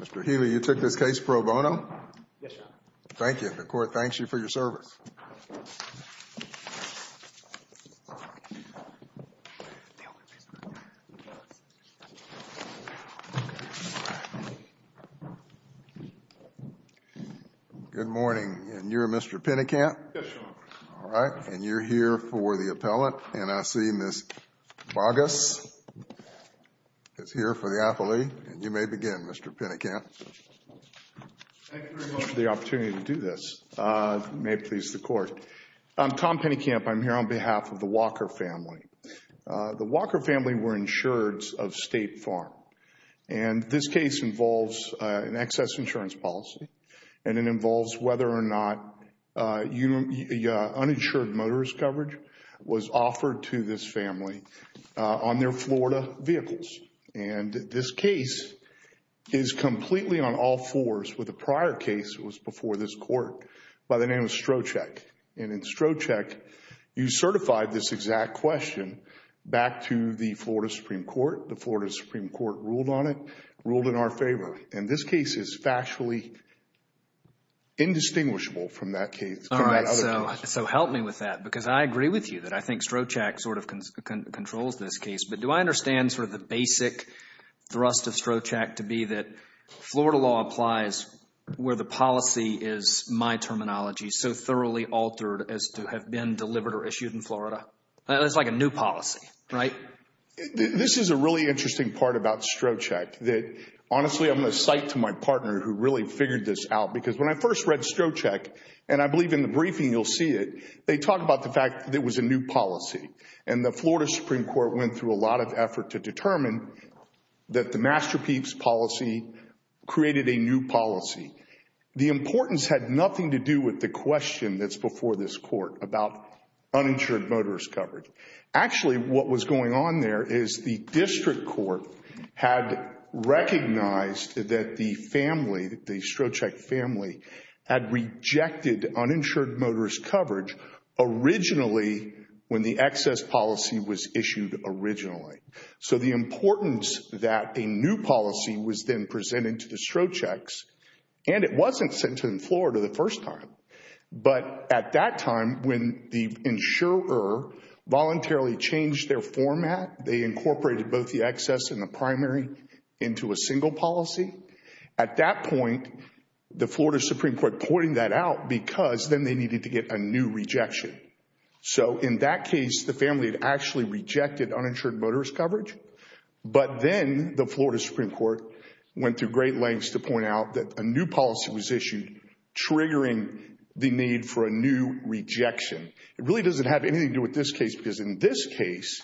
Mr. Healy, you took this case pro bono? Yes, Your Honor. Thank you. The court thanks you for your service. Good morning. And you're Mr. Pennekamp? Yes, Your Honor. All right. And you're here for the appellant. And I see Ms. Boggess is here for the appellee. And you may begin, Mr. Pennekamp. Thank you very much for the opportunity to do this. It may please the court. I'm Tom Pennekamp. I'm here on behalf of the Walker family. The Walker family were insured of State Farm. And this case involves an excess insurance policy. And it involves whether or not uninsured motorist coverage was offered to this family on their Florida vehicles. And this case is completely on all fours with a prior case that was before this court by the name of Strocheck. And in Strocheck, you certified this exact question back to the Florida Supreme Court. The Florida Supreme Court ruled on it, ruled in our favor. And this case is factually indistinguishable from that case, from that other case. So help me with that, because I agree with you that I think Strocheck sort of controls this case. But do I understand sort of the basic thrust of Strocheck to be that Florida law applies where the policy is, my terminology, so thoroughly altered as to have been delivered or issued in Florida? It's like a new policy, right? This is a really interesting part about Strocheck that, honestly, I'm going to cite to my partner who really figured this out. Because when I first read Strocheck, and I believe in the briefing you'll see it, they talk about the fact that it was a new policy. And the Florida Supreme Court went through a lot of effort to determine that the Masterpiece policy created a new policy. The importance had nothing to do with the question that's before this court about uninsured motorist coverage. Actually, what was going on there is the district court had recognized that the family, the Strocheck family, had rejected uninsured motorist coverage originally when the excess policy was issued originally. So the importance that a new policy was then presented to the Strochecks, and it wasn't sent to them in Florida the first time. But at that time, when the insurer voluntarily changed their format, they incorporated both the excess and the primary into a single policy. At that point, the Florida Supreme Court pointed that out because then they needed to get a new rejection. So in that case, the family had actually rejected uninsured motorist coverage. But then the Florida Supreme Court went to great lengths to point out that a new policy was issued triggering the need for a new rejection. It really doesn't have anything to do with this case because in this case,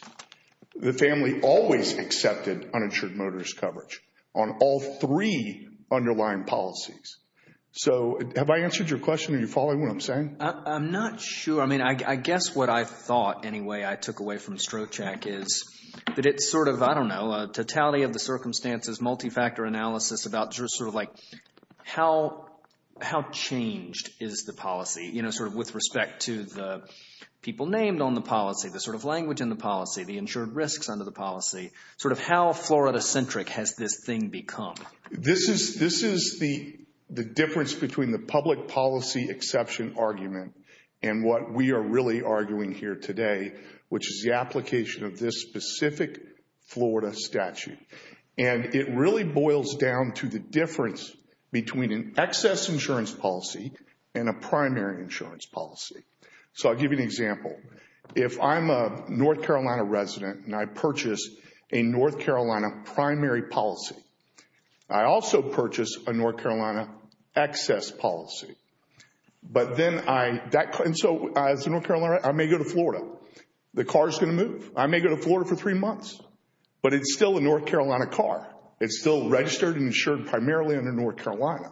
the family always accepted uninsured motorist coverage on all three underlying policies. So have I answered your question? Are you following what I'm saying? I'm not sure. I mean, I guess what I thought anyway I took away from Strocheck is that it's sort of, I don't know, a totality of the circumstances, multifactor analysis about sort of like how changed is the policy, you know, sort of with respect to the people named on the policy, the sort of language in the policy, the insured risks under the policy, sort of how Florida-centric has this thing become? This is the difference between the public policy exception argument and what we are really arguing here today, which is the application of this specific Florida statute. And it really boils down to the difference between an excess insurance policy and a primary insurance policy. So I'll give you an example. If I'm a North Carolina resident and I purchase a North Carolina primary policy, I also purchase a North Carolina excess policy. And so as a North Carolina resident, I may go to Florida. The car is going to move. I may go to Florida for three months. But it's still a North Carolina car. It's still registered and insured primarily under North Carolina.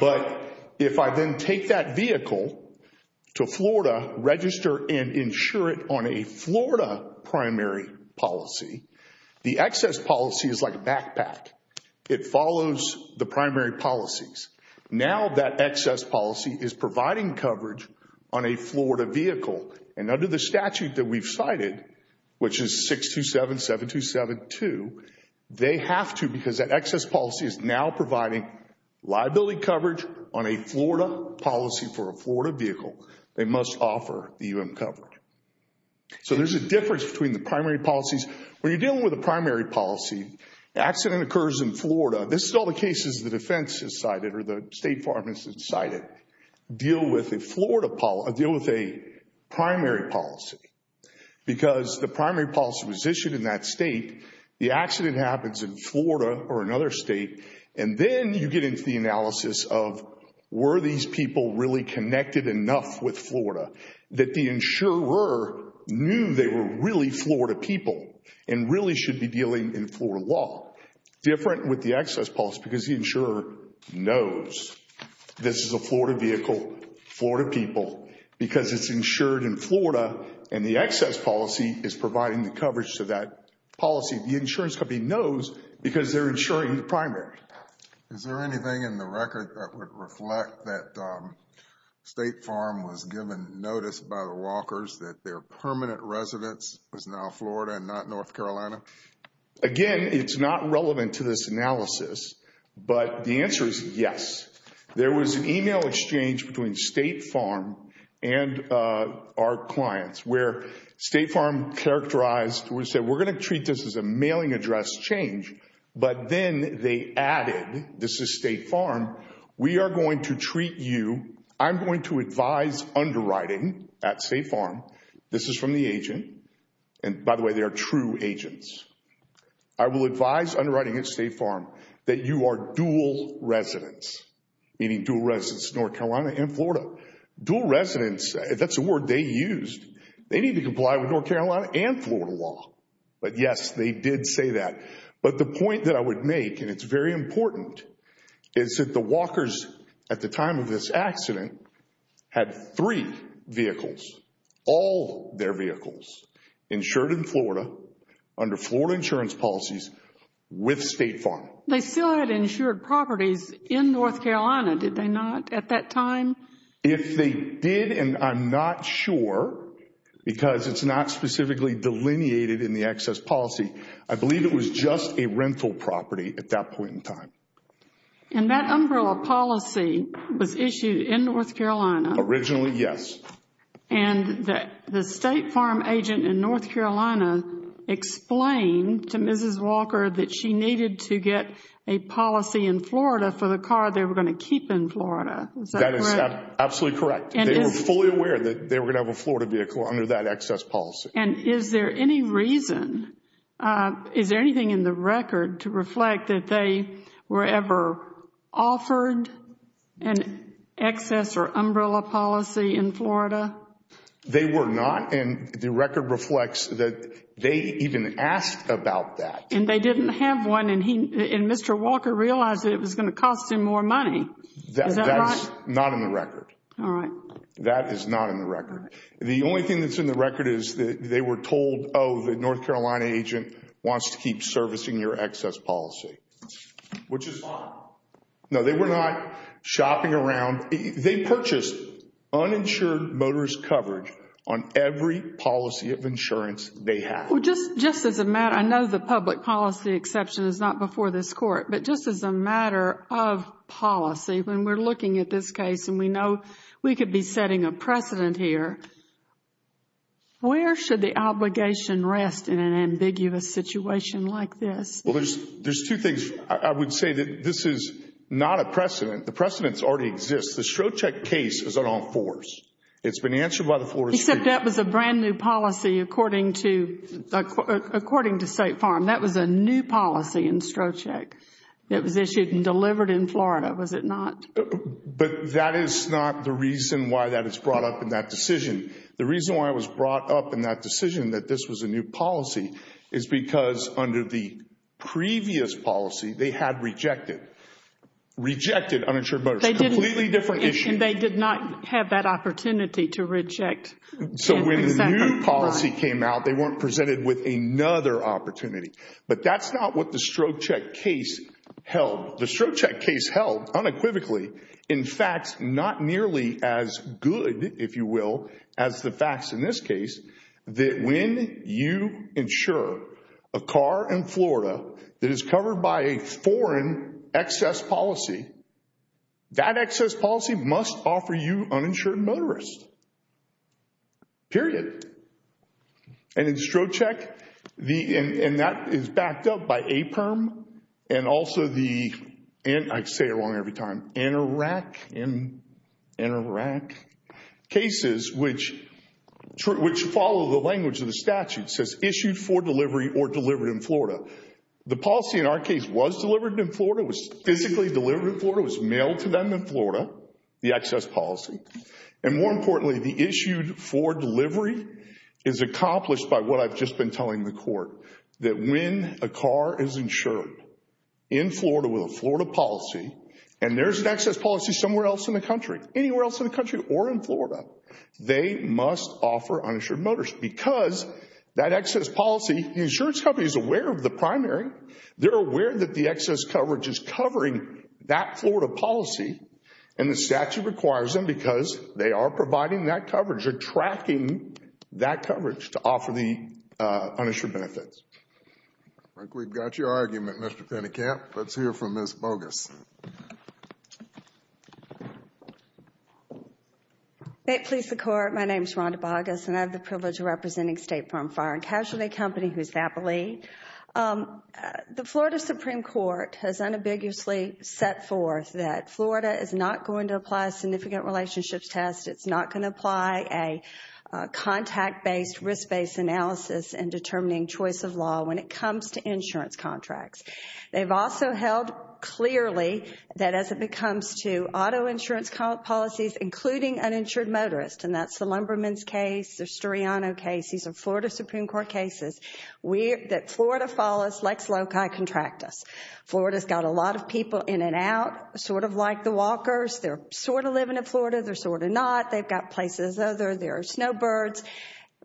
But if I then take that vehicle to Florida, register and insure it on a Florida primary policy, the excess policy is like a backpack. It follows the primary policies. Now that excess policy is providing coverage on a Florida vehicle. And under the statute that we've cited, which is 627-7272, they have to, because that excess policy is now providing liability coverage on a Florida policy for a Florida vehicle, they must offer the UM coverage. So there's a difference between the primary policies. When you're dealing with a primary policy, the accident occurs in Florida. This is all the cases the defense has cited or the state farm has cited deal with a primary policy. Because the primary policy was issued in that state. The accident happens in Florida or another state. And then you get into the analysis of were these people really connected enough with Florida that the insurer knew they were really Florida people and really should be dealing in Florida law. Different with the excess policy because the insurer knows this is a Florida vehicle, Florida people, because it's insured in Florida and the excess policy is providing the coverage to that policy. The insurance company knows because they're insuring the primary. Is there anything in the record that would reflect that State Farm was given notice by the Walkers that their permanent residence was now Florida and not North Carolina? Again, it's not relevant to this analysis, but the answer is yes. There was an email exchange between State Farm and our clients where State Farm characterized, we said we're going to treat this as a mailing address change. But then they added, this is State Farm, we are going to treat you, I'm going to advise underwriting at State Farm. This is from the agent. And by the way, they are true agents. I will advise underwriting at State Farm that you are dual residence, meaning dual residence North Carolina and Florida. Dual residence, that's a word they used. They need to comply with North Carolina and Florida law. But yes, they did say that. But the point that I would make, and it's very important, is that the Walkers at the time of this accident had three vehicles, all their vehicles, insured in Florida under Florida insurance policies with State Farm. They still had insured properties in North Carolina, did they not, at that time? If they did, and I'm not sure, because it's not specifically delineated in the excess policy, I believe it was just a rental property at that point in time. And that umbrella policy was issued in North Carolina? Originally, yes. And the State Farm agent in North Carolina explained to Mrs. Walker that she needed to get a policy in Florida for the car they were going to keep in Florida. Is that correct? That is absolutely correct. They were fully aware that they were going to have a Florida vehicle under that excess policy. And is there any reason, is there anything in the record to reflect that they were ever offered an excess or umbrella policy in Florida? They were not, and the record reflects that they even asked about that. And they didn't have one, and Mr. Walker realized that it was going to cost him more money. Is that right? That's not in the record. All right. That is not in the record. The only thing that's in the record is that they were told, oh, the North Carolina agent wants to keep servicing your excess policy, which is fine. No, they were not shopping around. They purchased uninsured motorist coverage on every policy of insurance they had. Well, just as a matter, I know the public policy exception is not before this Court, but just as a matter of policy, when we're looking at this case and we know we could be setting a precedent here, where should the obligation rest in an ambiguous situation like this? Well, there's two things. I would say that this is not a precedent. The precedent already exists. The Strzok case is unenforced. It's been answered by the Florida Supreme Court. Except that was a brand-new policy, according to State Farm. That was a new policy in Strzok that was issued and delivered in Florida, was it not? But that is not the reason why that is brought up in that decision. The reason why it was brought up in that decision that this was a new policy is because under the previous policy, they had rejected uninsured motorists. Completely different issue. And they did not have that opportunity to reject. So when the new policy came out, they weren't presented with another opportunity. But that's not what the Strzok case held. The Strzok case held unequivocally, in fact, not nearly as good, if you will, as the facts in this case, that when you insure a car in Florida that is covered by a foreign excess policy, that excess policy must offer you uninsured motorists. Period. And in Strzok, and that is backed up by APRM and also the, and I say it wrong every time, NRAC, NRAC cases, which follow the language of the statute, says issued for delivery or delivered in Florida. The policy in our case was delivered in Florida, was physically delivered in Florida, was mailed to them in Florida, the excess policy. And more importantly, the issued for delivery is accomplished by what I've just been telling the court, that when a car is insured in Florida with a Florida policy, and there's an excess policy somewhere else in the country, anywhere else in the country or in Florida, they must offer uninsured motorists. Because that excess policy, the insurance company is aware of the primary. They're aware that the excess coverage is covering that Florida policy and the statute requires them because they are providing that coverage or tracking that coverage to offer the uninsured benefits. I think we've got your argument, Mr. Pennekamp. Let's hear from Ms. Bogus. May it please the Court, my name is Rhonda Bogus and I have the privilege of representing State Farm Fire and Casualty Company, who is FAPLI. The Florida Supreme Court has unambiguously set forth that Florida is not going to apply a significant relationships test. It's not going to apply a contact-based, risk-based analysis in determining choice of law when it comes to insurance contracts. They've also held clearly that as it comes to auto insurance policies, including uninsured motorists, and that's the Lumberman's case, the Storiano case, these are Florida Supreme Court cases, that Florida follows Lex Loci Contractus. Florida's got a lot of people in and out, sort of like the walkers. They're sort of living in Florida, they're sort of not. They've got places where there are snowbirds.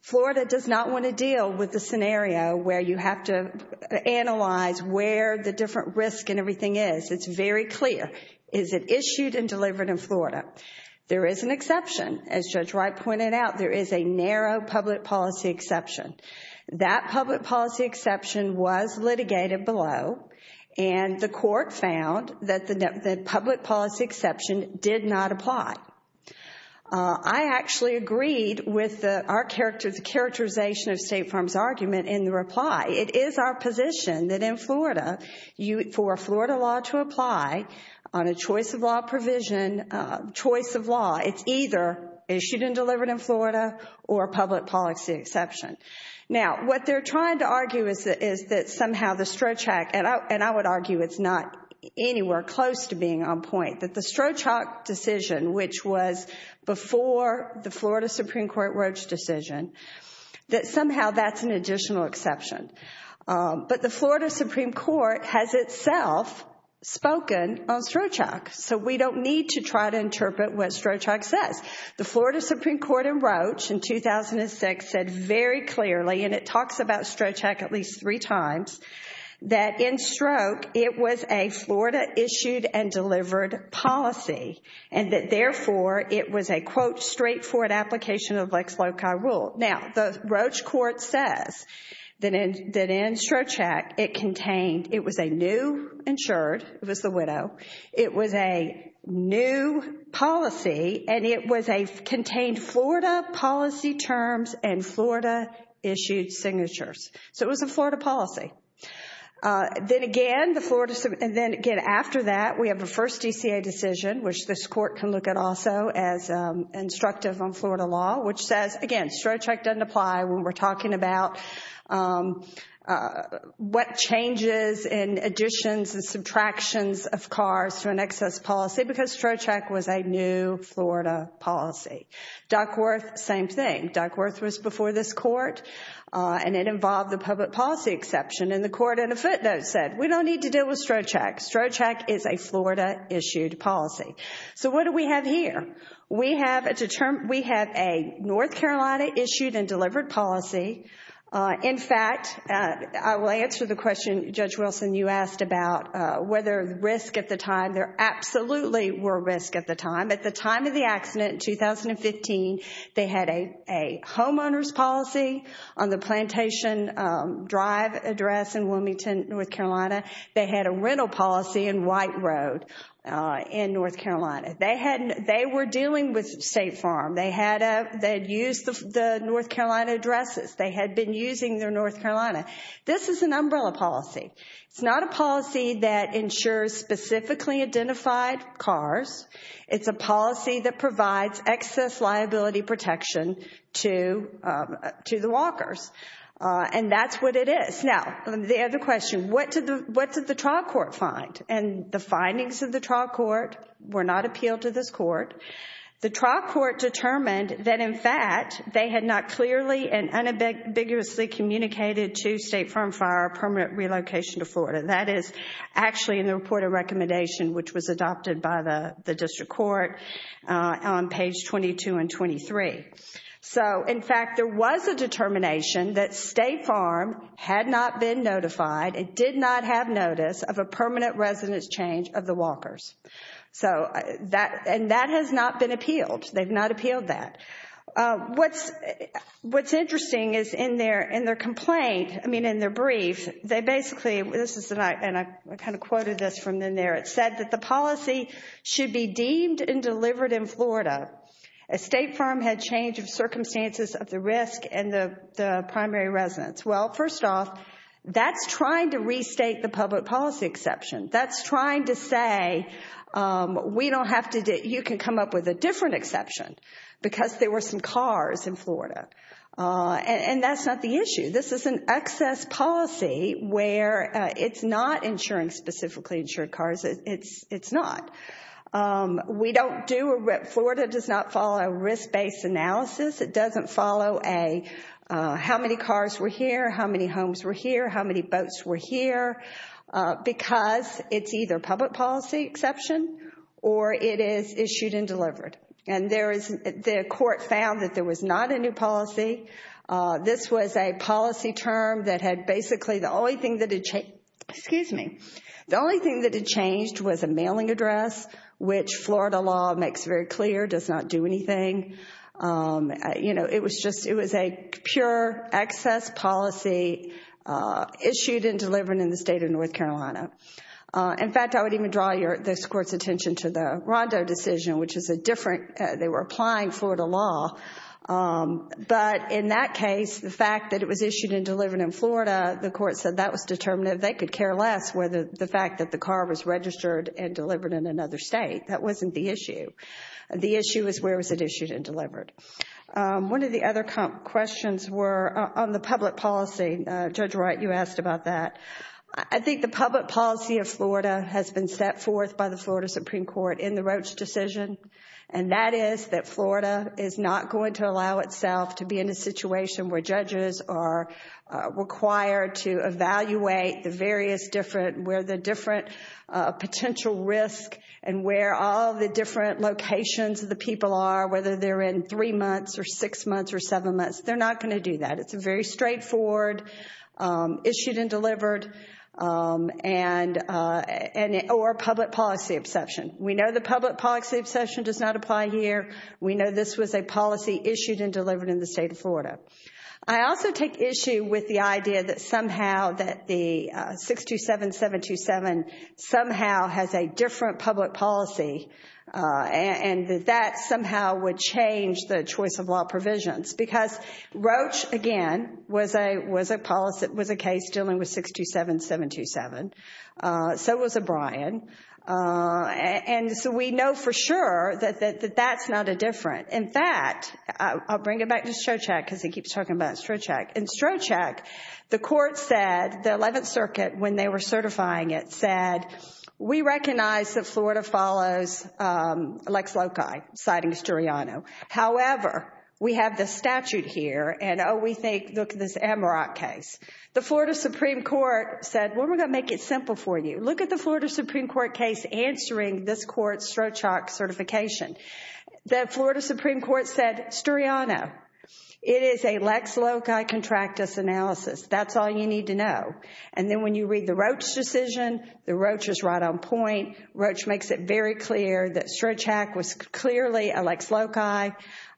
Florida does not want to deal with the scenario where you have to analyze where the different risk and everything is. It's very clear. Is it issued and delivered in Florida? There is an exception. As Judge Wright pointed out, there is a narrow public policy exception. That public policy exception was litigated below, and the court found that the public policy exception did not apply. I actually agreed with the characterization of State Farm's argument in the reply. It is our position that in Florida, for a Florida law to apply on a choice of law provision, choice of law, it's either issued and delivered in Florida or a public policy exception. Now, what they're trying to argue is that somehow the Strzok, and I would argue it's not anywhere close to being on point, that the Strzok decision, which was before the Florida Supreme Court Roach decision, that somehow that's an additional exception. But the Florida Supreme Court has itself spoken on Strzok, so we don't need to try to interpret what Strzok says. The Florida Supreme Court in Roach in 2006 said very clearly, and it talks about Strzok at least three times, that in Strzok it was a Florida-issued and delivered policy, and that therefore it was a, quote, straightforward application of Lex Loci rule. Now, the Roach court says that in Strzok it contained, it was a new, insured, it was the widow, it was a new policy, and it contained Florida policy terms and Florida-issued signatures. So it was a Florida policy. Then again, the Florida, and then again after that, we have the first DCA decision, which this court can look at also as instructive on Florida law, which says, again, Strzok doesn't apply when we're talking about what changes and additions and subtractions of cars to an excess policy because Strzok was a new Florida policy. Duckworth, same thing. Duckworth was before this court, and it involved the public policy exception, and the court in a footnote said, we don't need to deal with Strzok. Strzok is a Florida-issued policy. So what do we have here? We have a North Carolina-issued and delivered policy. In fact, I will answer the question, Judge Wilson, you asked about whether risk at the time, there absolutely were risk at the time. At the time of the accident in 2015, they had a homeowner's policy on the plantation drive address in Wilmington, North Carolina. They had a rental policy in White Road in North Carolina. They were dealing with State Farm. They had used the North Carolina addresses. They had been using their North Carolina. This is an umbrella policy. It's not a policy that ensures specifically identified cars. It's a policy that provides excess liability protection to the walkers. And that's what it is. Now, the other question, what did the trial court find? And the findings of the trial court were not appealed to this court. The trial court determined that, in fact, they had not clearly and unambiguously communicated to State Farm Fire a permanent relocation to Florida. That is actually in the report of recommendation, which was adopted by the district court on page 22 and 23. So, in fact, there was a determination that State Farm had not been notified and did not have notice of a permanent residence change of the walkers. And that has not been appealed. They've not appealed that. What's interesting is in their complaint, I mean, in their brief, they basically, and I kind of quoted this from in there, it said that the policy should be deemed and delivered in Florida. A State Farm had change of circumstances of the risk and the primary residence. Well, first off, that's trying to restate the public policy exception. That's trying to say we don't have to, you can come up with a different exception because there were some cars in Florida. And that's not the issue. This is an excess policy where it's not insuring specifically insured cars. It's not. We don't do, Florida does not follow a risk-based analysis. It doesn't follow a how many cars were here, how many homes were here, how many boats were here, because it's either public policy exception or it is issued and delivered. And the court found that there was not a new policy. This was a policy term that had basically the only thing that had changed, excuse me, the only thing that had changed was a mailing address, which Florida law makes very clear does not do anything. You know, it was just, it was a pure excess policy issued and delivered in the state of North Carolina. In fact, I would even draw this court's attention to the Rondo decision, which is a different, they were applying Florida law. But in that case, the fact that it was issued and delivered in Florida, the court said that was determinative. They could care less whether the fact that the car was registered and delivered in another state. That wasn't the issue. The issue is where was it issued and delivered. One of the other questions were on the public policy. Judge Wright, you asked about that. I think the public policy of Florida has been set forth by the Florida Supreme Court in the Roach decision, and that is that Florida is not going to allow itself to be in a situation where judges are required to evaluate the various different, where the different potential risk and where all the different locations of the people are, whether they're in three months or six months or seven months. They're not going to do that. It's a very straightforward issued and delivered or public policy exception. We know the public policy exception does not apply here. We know this was a policy issued and delivered in the state of Florida. I also take issue with the idea that somehow that the 627-727 somehow has a different public policy and that that somehow would change the choice of law provisions because Roach, again, was a policy, was a case dealing with 627-727. So was O'Brien. And so we know for sure that that's not a different. In fact, I'll bring it back to Strzok, because he keeps talking about Strzok. In Strzok, the court said, the 11th Circuit, when they were certifying it, said, we recognize that Florida follows Lex Loci, citing Sturiano. However, we have the statute here, and oh, we think, look at this Amarok case. The Florida Supreme Court said, well, we're going to make it simple for you. Look at the Florida Supreme Court case answering this court's Strzok certification. The Florida Supreme Court said, Sturiano, it is a Lex Loci contractus analysis. That's all you need to know. And then when you read the Roach decision, the Roach is right on point. Roach makes it very clear that Strzok was clearly a Lex Loci,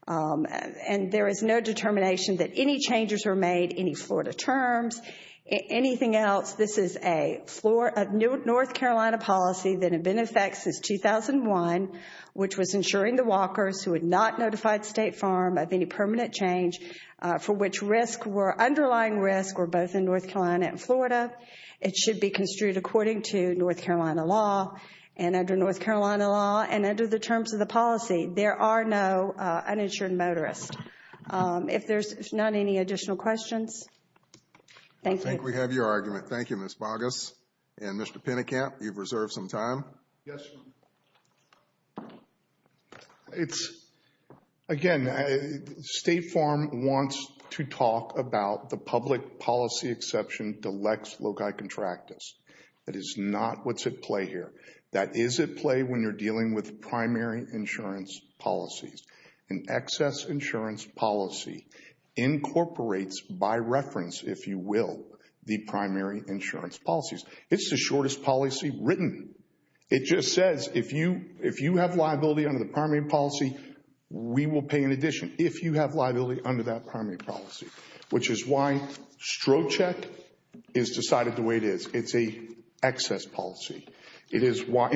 and there is no determination that any changes were made, any Florida terms, anything else. This is a North Carolina policy that had been in effect since 2001, which was ensuring the walkers who had not notified State Farm of any permanent change for which underlying risks were both in North Carolina and Florida. It should be construed according to North Carolina law, and under North Carolina law, and under the terms of the policy, there are no uninsured motorists. If there's not any additional questions. Thank you. I think we have your argument. Thank you, Ms. Boggess. And Mr. Pennekamp, you've reserved some time. Yes. Again, State Farm wants to talk about the public policy exception to Lex Loci contractus. That is not what's at play here. That is at play when you're dealing with primary insurance policies. An excess insurance policy incorporates, by reference, if you will, the primary insurance policies. It's the shortest policy written. It just says if you have liability under the primary policy, we will pay in addition, if you have liability under that primary policy, which is why Strzok is decided the way it is. It's an excess policy. And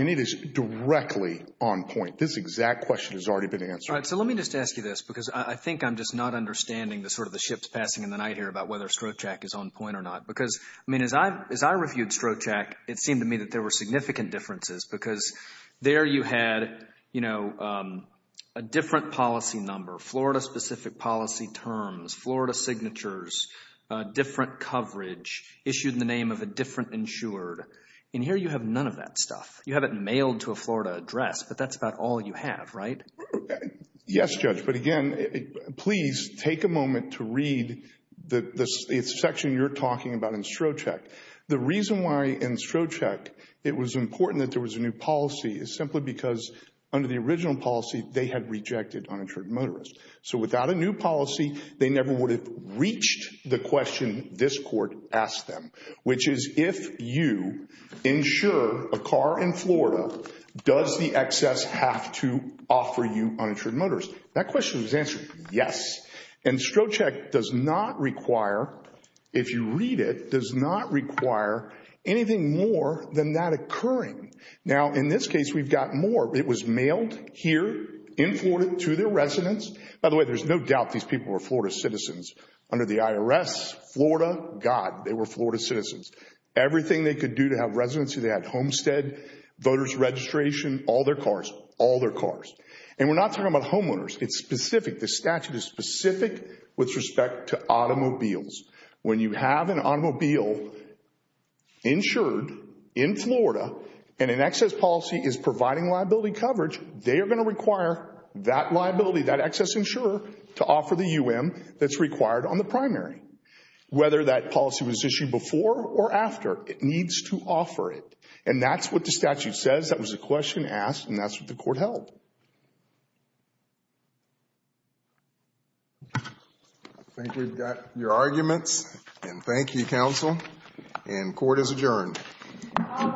it is directly on point. This exact question has already been answered. All right. So let me just ask you this, because I think I'm just not understanding the sort of the ships passing in the night here about whether Strzok is on point or not. Because, I mean, as I reviewed Strzok, it seemed to me that there were significant differences, because there you had, you know, a different policy number, Florida-specific policy terms, Florida signatures, different coverage issued in the name of a different insured. And here you have none of that stuff. You have it mailed to a Florida address, but that's about all you have, right? Yes, Judge. But, again, please take a moment to read the section you're talking about in Strzok. The reason why in Strzok it was important that there was a new policy is simply because under the original policy, they had rejected uninsured motorists. So without a new policy, they never would have reached the question this court asked them, which is if you insure a car in Florida, does the excess have to offer you uninsured motorists? That question was answered, yes. And Strzok does not require, if you read it, does not require anything more than that occurring. Now, in this case, we've got more. It was mailed here in Florida to their residence. By the way, there's no doubt these people were Florida citizens. Under the IRS, Florida, God, they were Florida citizens. Everything they could do to have residency, they had homestead, voters registration, all their cars, all their cars. And we're not talking about homeowners. It's specific. The statute is specific with respect to automobiles. When you have an automobile insured in Florida and an excess policy is providing liability coverage, they are going to require that liability, that excess insurer, to offer the UM that's required on the primary. Whether that policy was issued before or after, it needs to offer it. And that's what the statute says. That was a question asked, and that's what the court held. I think we've got your arguments. And thank you, counsel. And court is adjourned. All rise.